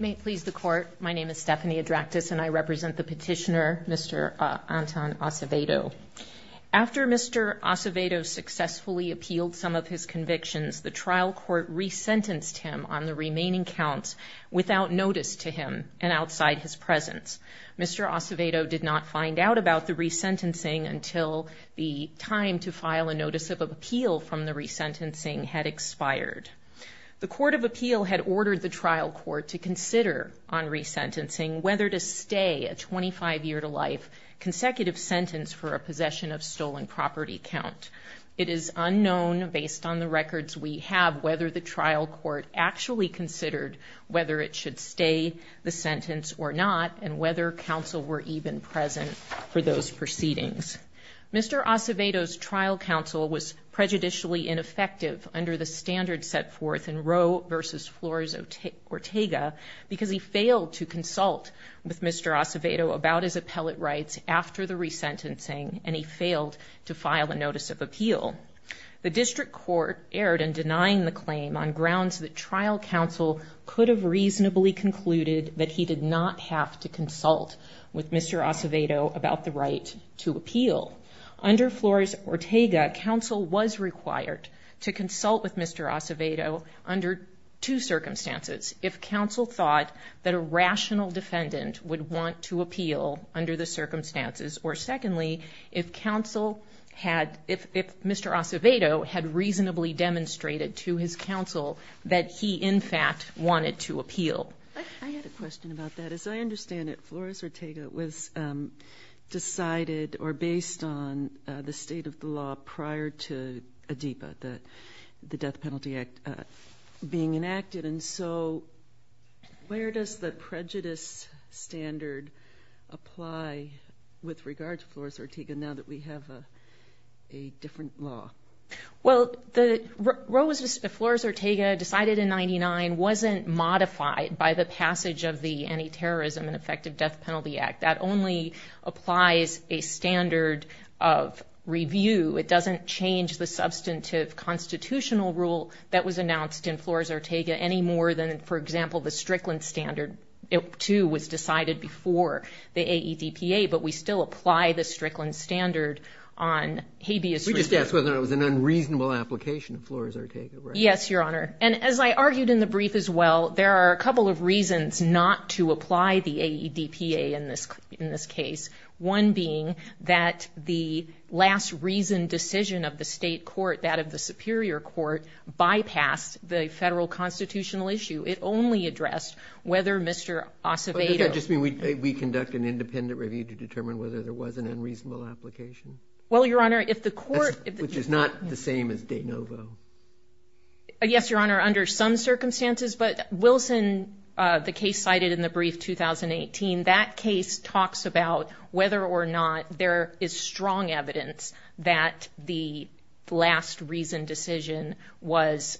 May it please the court, my name is Stephanie Adractis and I represent the petitioner Mr. Anton Acevedo. After Mr. Acevedo successfully appealed some of his convictions, the trial court resentenced him on the remaining counts without notice to him and outside his presence. Mr. Acevedo did not find out about the resentencing until the time to file a notice of appeal from the trial court to consider on resentencing whether to stay a 25-year-to-life consecutive sentence for a possession of stolen property count. It is unknown based on the records we have whether the trial court actually considered whether it should stay the sentence or not and whether counsel were even present for those proceedings. Mr. Acevedo's trial counsel was prejudicially ineffective under the standards set forth in Roe versus Flores Ortega because he failed to consult with Mr. Acevedo about his appellate rights after the resentencing and he failed to file a notice of appeal. The district court erred in denying the claim on grounds that trial counsel could have reasonably concluded that he did not have to consult with Mr. Acevedo about the right to appeal. Under Flores Ortega, counsel was required to consult with Mr. Acevedo under two circumstances. If counsel thought that a rational defendant would want to appeal under the circumstances or secondly if counsel had if Mr. Acevedo had reasonably demonstrated to his counsel that he in fact wanted to appeal. I had a question about that. As I understand it, Flores Ortega was decided or based on the state of the law prior to ADEPA, the Death Penalty Act, being enacted and so where does the prejudice standard apply with regard to Flores Ortega now that we have a different law? Well the Roe versus Flores Ortega decided in 99 wasn't modified by the passage of the Anti-Terrorism and Effective Death Penalty Act. That only applies a standard of review. It doesn't change the substantive constitutional rule that was announced in Flores Ortega any more than for example the Strickland standard. It too was decided before the AEDPA but we still apply the Strickland standard on habeas corpus. We just asked whether it was an unreasonable application of Flores Ortega. Yes your honor and as I argued in the brief as well, there are a couple of reasons not to apply the AEDPA in this case. One being that the last reasoned decision of the state court, that of the superior court, bypassed the federal constitutional issue. It only addressed whether Mr. Acevedo... Does that just mean we conduct an independent review to determine whether there was an unreasonable application? Well your honor if the court... Which is not the same as de novo. Yes your honor under some circumstances but Wilson, the case cited in the brief 2018, that case talks about whether or not there is strong evidence that the last reasoned decision was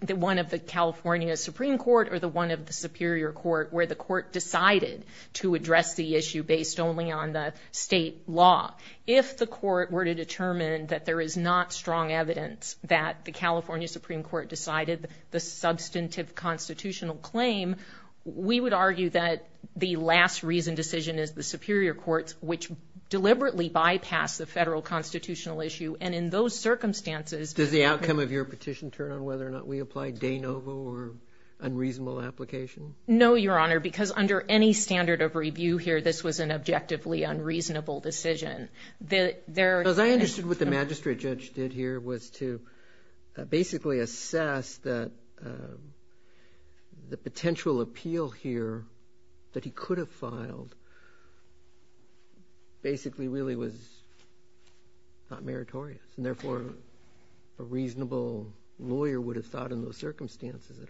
the one of the California Supreme Court or the one of the superior court where the court decided to address the issue based only on the state law. If the court were to determine that there is not strong evidence that the California Supreme Court decided the substantive constitutional claim, we would argue that the last reasoned decision is the superior courts which deliberately bypassed the federal constitutional issue and in those circumstances... Does the outcome of your petition turn on whether or not we applied de novo or unreasonable application? No your honor because under any standard of review here this was an objectively unreasonable decision. As I understood what the magistrate judge did here was to basically assess that the potential appeal here that he could have filed basically really was not meritorious and therefore a reasonable lawyer would have thought in those circumstances it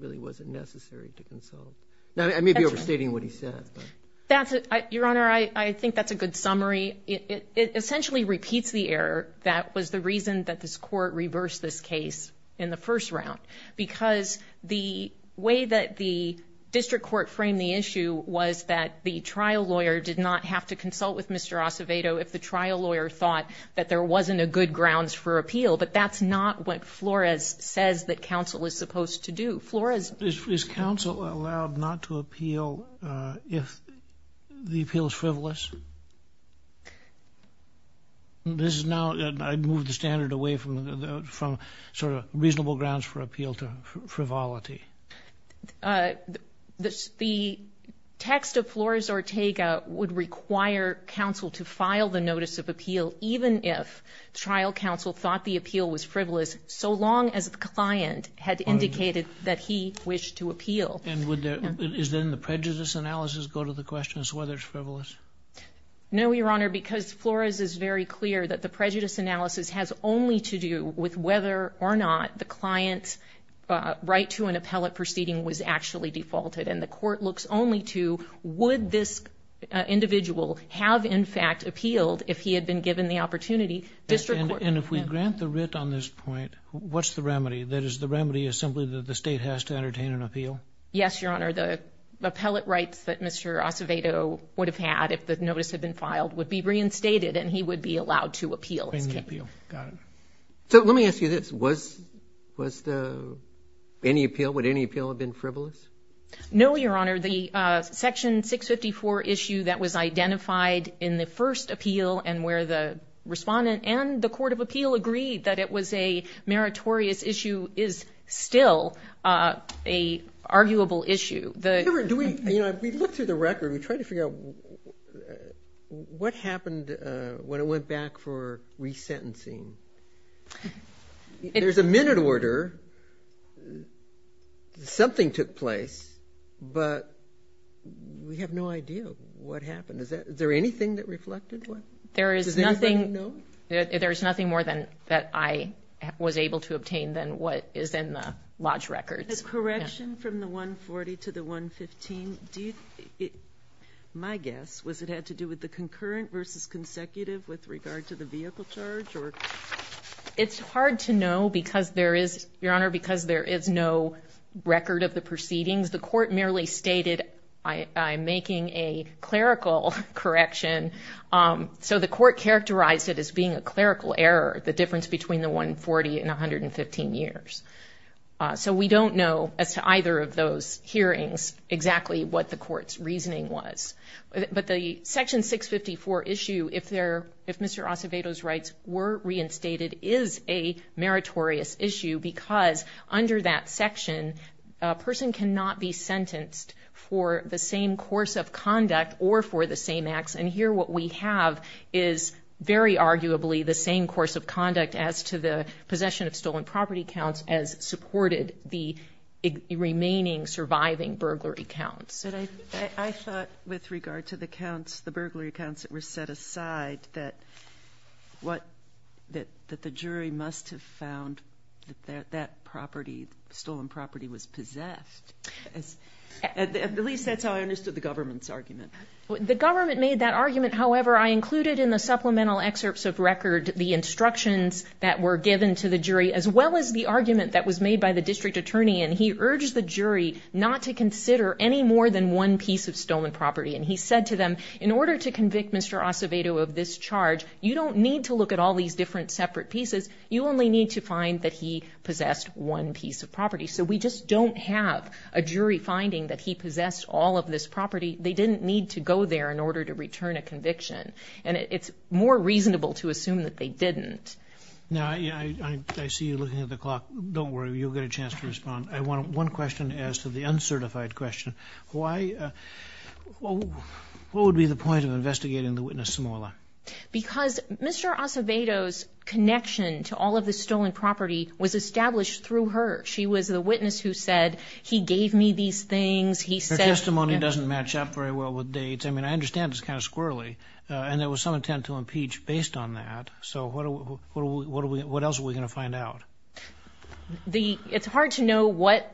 really wasn't necessary to consult. Now I may be overstating what he said. That's it your I think that's a good summary. It essentially repeats the error that was the reason that this court reversed this case in the first round because the way that the district court framed the issue was that the trial lawyer did not have to consult with Mr. Acevedo if the trial lawyer thought that there wasn't a good grounds for appeal but that's not what Flores says that counsel is supposed to Flores... Is counsel allowed not to appeal if the appeal is frivolous? This is now I'd move the standard away from the from sort of reasonable grounds for appeal to frivolity. The text of Flores Ortega would require counsel to file the notice of appeal even if trial counsel thought the appeal was frivolous so long as the he wished to appeal. And would there is then the prejudice analysis go to the questions whether it's frivolous? No your honor because Flores is very clear that the prejudice analysis has only to do with whether or not the client's right to an appellate proceeding was actually defaulted and the court looks only to would this individual have in fact appealed if he had been given the opportunity district court... And if we grant the writ on this point what's the has to entertain an appeal? Yes your honor the appellate rights that Mr. Acevedo would have had if the notice had been filed would be reinstated and he would be allowed to appeal. So let me ask you this was was the any appeal would any appeal have been frivolous? No your honor the section 654 issue that was identified in the first appeal and where the respondent and the court of appeal agreed that it was a meritorious issue is still a arguable issue the... Do we you know we look through the record we try to figure out what happened when it went back for resentencing. There's a minute order something took place but we have no idea what happened is that is there anything that reflected? There is nothing no there's nothing more than that I was able to obtain than what is in the lodge records. The correction from the 140 to the 115 do you my guess was it had to do with the concurrent versus consecutive with regard to the vehicle charge? It's hard to know because there is your honor because there is no record of the proceedings the court merely stated I am making a clerical correction so the court characterized it as being a clerical error the difference between the 140 and 115 years. So we don't know as to either of those hearings exactly what the court's reasoning was but the section 654 issue if there if Mr. Acevedo's rights were reinstated is a meritorious issue because under that section a person cannot be sentenced for the same course of conduct or for the same acts and here what we have is very arguably the same course of conduct as to the possession of stolen property counts as supported the remaining surviving burglary counts. I thought with regard to the counts the burglary accounts that were set aside that what that that the jury must have found that that property stolen property was possessed. At least that's how I made that argument however I included in the supplemental excerpts of record the instructions that were given to the jury as well as the argument that was made by the district attorney and he urged the jury not to consider any more than one piece of stolen property and he said to them in order to convict Mr. Acevedo of this charge you don't need to look at all these different separate pieces you only need to find that he possessed one piece of property so we just don't have a jury finding that he possessed all of this property they didn't need to go there in order to return a conviction and it's more reasonable to assume that they didn't. Now I see you looking at the clock don't worry you'll get a chance to respond. I want one question as to the uncertified question why what would be the point of investigating the witness Samoila? Because Mr. Acevedo's connection to all of the stolen property was established through her. She was the witness who said he gave me these things. Her testimony doesn't match up very well with dates I mean I understand it's kind of squirrely and there was some intent to impeach based on that so what else are we gonna find out? It's hard to know what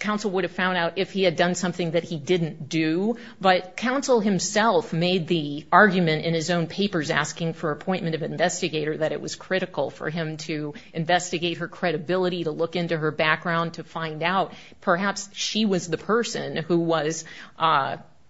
counsel would have found out if he had done something that he didn't do but counsel himself made the argument in his own papers asking for appointment of investigator that it was critical for him to investigate her credibility to look into her background to find out perhaps she was the person who was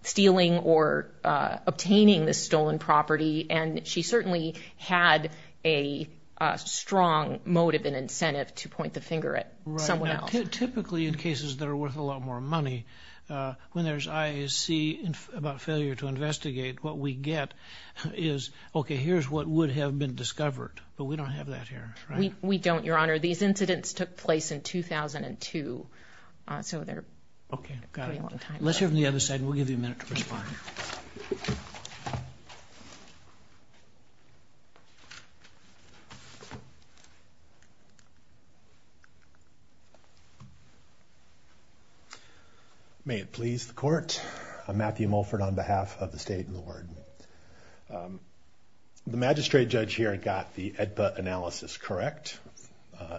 stealing or obtaining the stolen property and she certainly had a strong motive and incentive to point the finger at someone else. Typically in cases that are worth a lot more money when there's IAC about failure to investigate what we get is okay here's what would have been discovered but we don't have that here. We don't your honor these incidents took place in 2002 so they're okay let's hear from the other side we'll give you a minute to respond. May it please the court I'm Matthew Mulford on behalf of the state and the warden. The magistrate judge here got the AEDPA analysis correct.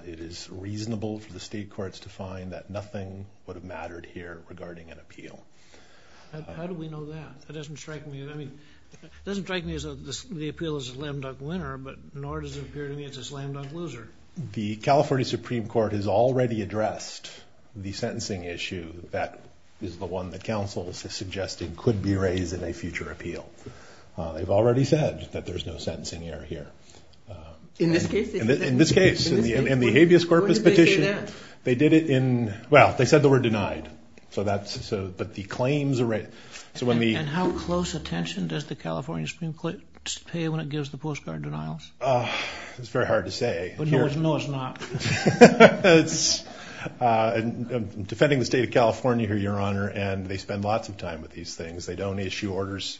It is reasonable for the state courts to find that nothing would have mattered here regarding an appeal. How do we know that? It doesn't strike me as a lamb duck winner but nor does it appear to me it's a lamb duck loser. The California Supreme Court has already addressed the sentencing issue that is the one that counsel is suggesting could be raised in a future appeal. They've already said that there's no sentencing error here. In this case? In this case and the habeas corpus petition they did it in well they said they were denied so that's so but the claims are right. And how close attention does the California Supreme Court pay when it gives the postcard denials? It's very hard to say. No it's not. I'm defending the state of California here your honor and they spend lots of time with these things they don't issue orders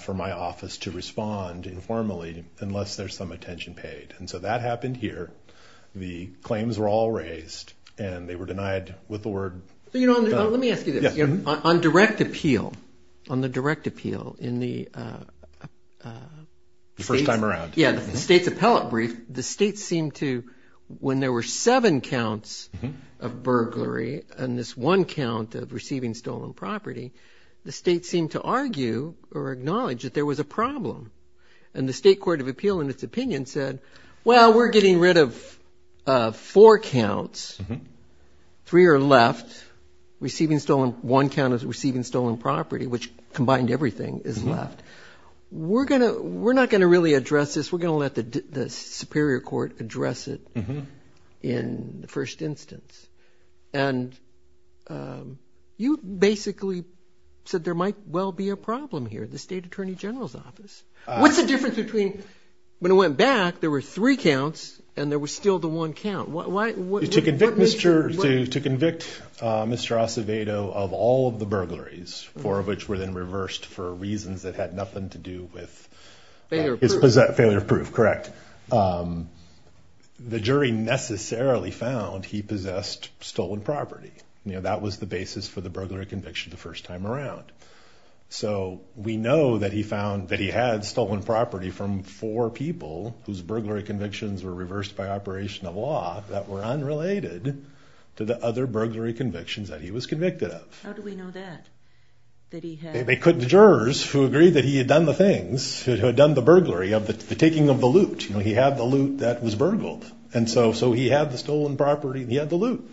for my office to respond informally unless there's some attention paid and so that happened here the claims were all raised and they were denied with the word. You know let me ask you this on direct appeal on the direct appeal in the first time around yeah the state's appellate brief the state seemed to when there were seven counts of burglary and this one count of receiving stolen property the state seemed to argue or acknowledge that there was a problem and the state getting rid of four counts three are left receiving stolen one count of receiving stolen property which combined everything is left we're gonna we're not gonna really address this we're gonna let the Superior Court address it in the first instance and you basically said there might well be a problem here the State Attorney General's office what's the difference between when it went back there were three counts and there was still the one count what to convict mr. to to convict mr. Acevedo of all of the burglaries four of which were then reversed for reasons that had nothing to do with is that failure of proof correct the jury necessarily found he possessed stolen property you know that was the basis for the burglary conviction the first time around so we know that he found that he had stolen property from four people whose burglary convictions were reversed by operation of law that were unrelated to the other burglary convictions that he was convicted of they couldn't jurors who agreed that he had done the things who had done the burglary of the taking of the loot you know he had the loot that was burgled and so so he had the stolen property he had the loot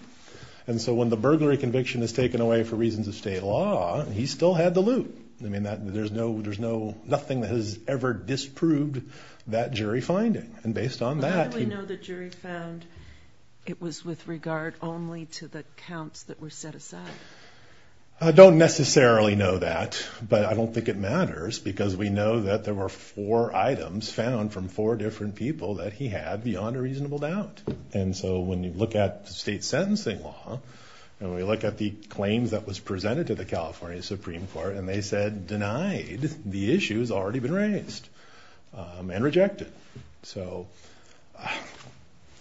and so when the burglary conviction is taken away for reasons of law he still had the loot I mean that there's no there's no nothing that has ever disproved that jury finding and based on that it was with regard only to the counts that were set aside I don't necessarily know that but I don't think it matters because we know that there were four items found from four different people that he had beyond a reasonable doubt and so when you look at was presented to the California Supreme Court and they said denied the issues already been raised and rejected so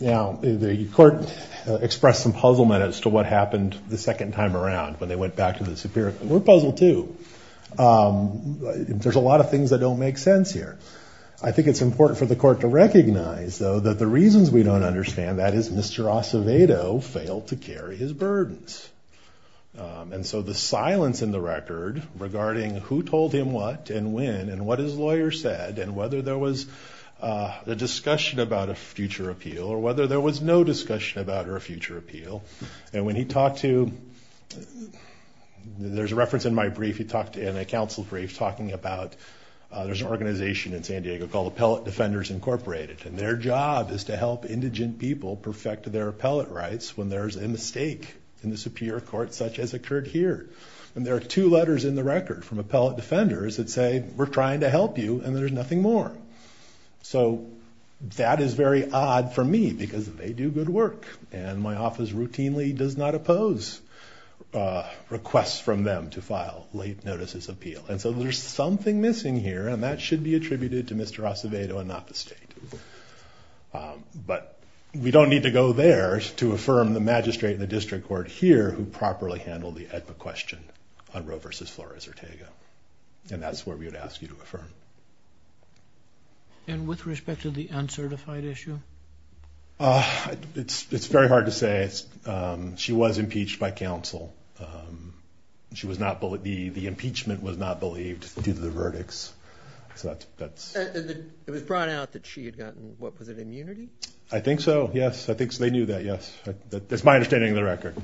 now the court expressed some puzzlement as to what happened the second time around when they went back to the Superior we're puzzled too there's a lot of things that don't make sense here I think it's important for the court to recognize though that the reasons we don't understand that is Mr. Acevedo failed to carry his burdens and so the silence in the record regarding who told him what and when and what his lawyer said and whether there was a discussion about a future appeal or whether there was no discussion about her future appeal and when he talked to there's a reference in my brief he talked in a council brief talking about there's an organization in San Diego called Appellate Defenders Incorporated and their job is to help indigent people perfect their appellate rights when there's a mistake in the Superior Court such as occurred here and there are two letters in the record from Appellate Defenders that say we're trying to help you and there's nothing more so that is very odd for me because they do good work and my office routinely does not oppose requests from them to file late notices appeal and so there's something missing here and that should be but we don't need to go there to affirm the magistrate the district court here who properly handled the question on Roe versus Flores Ortega and that's where we would ask you to affirm and with respect to the uncertified issue it's very hard to say she was impeached by counsel she was not believe the impeachment was not due to the verdicts I think so yes I think they knew that yes that's my understanding of the record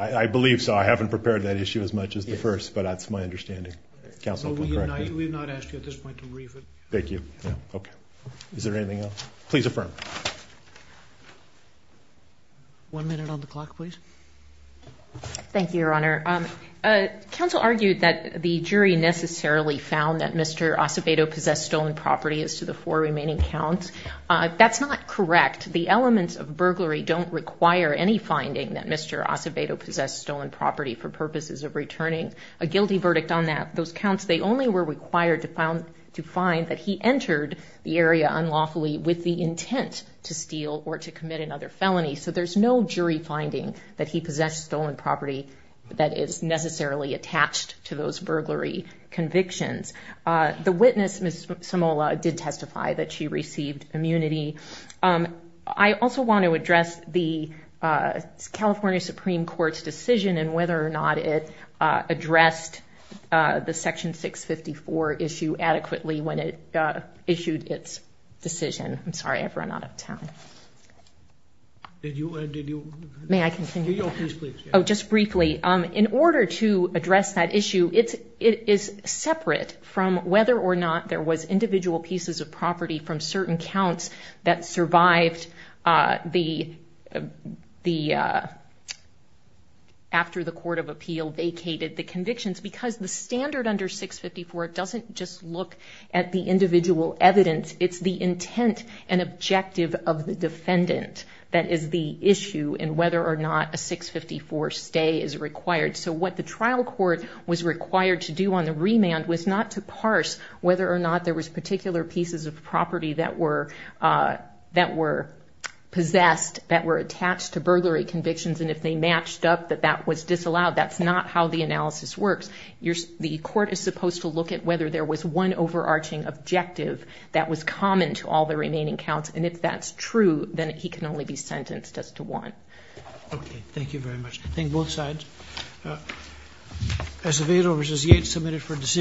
I believe so I haven't prepared that issue as much as the first but that's my understanding thank you okay is there anything else one minute on the clock please thank you your honor counsel argued that the jury necessarily found that mr. Acevedo possessed stolen property as to the four remaining counts that's not correct the elements of burglary don't require any finding that mr. Acevedo possessed stolen property for purposes of returning a guilty verdict on that those counts they only were required to found to find that he entered the area unlawfully with the intent to steal or to commit another felony so there's no jury finding that he possessed stolen property that is necessarily attached to those burglary convictions the witness miss Samola did testify that she received immunity I also want to address the California Supreme Court's decision and whether or not it addressed the section 654 issue adequately when it issued its decision I'm sorry I've run out of time did you and did you may I continue oh just briefly um in order to address that issue it's it is separate from whether or not there was individual pieces of property from certain counts that survived the the after the court of appeal vacated the convictions because the standard under 654 it doesn't just look at the individual evidence it's the intent and objective of the defendant that is the issue and whether or not a 654 stay is required so what the trial court was required to do on the remand was not to parse whether or not there was particular pieces of property that were that were possessed that were attached to burglary convictions and if they matched up that that was disallowed that's not how the analysis works you're the court is to look at whether there was one overarching objective that was common to all the remaining counts and if that's true then he can only be sentenced as to one okay thank you very much I think both sides as a vehicle which is yet submitted for decision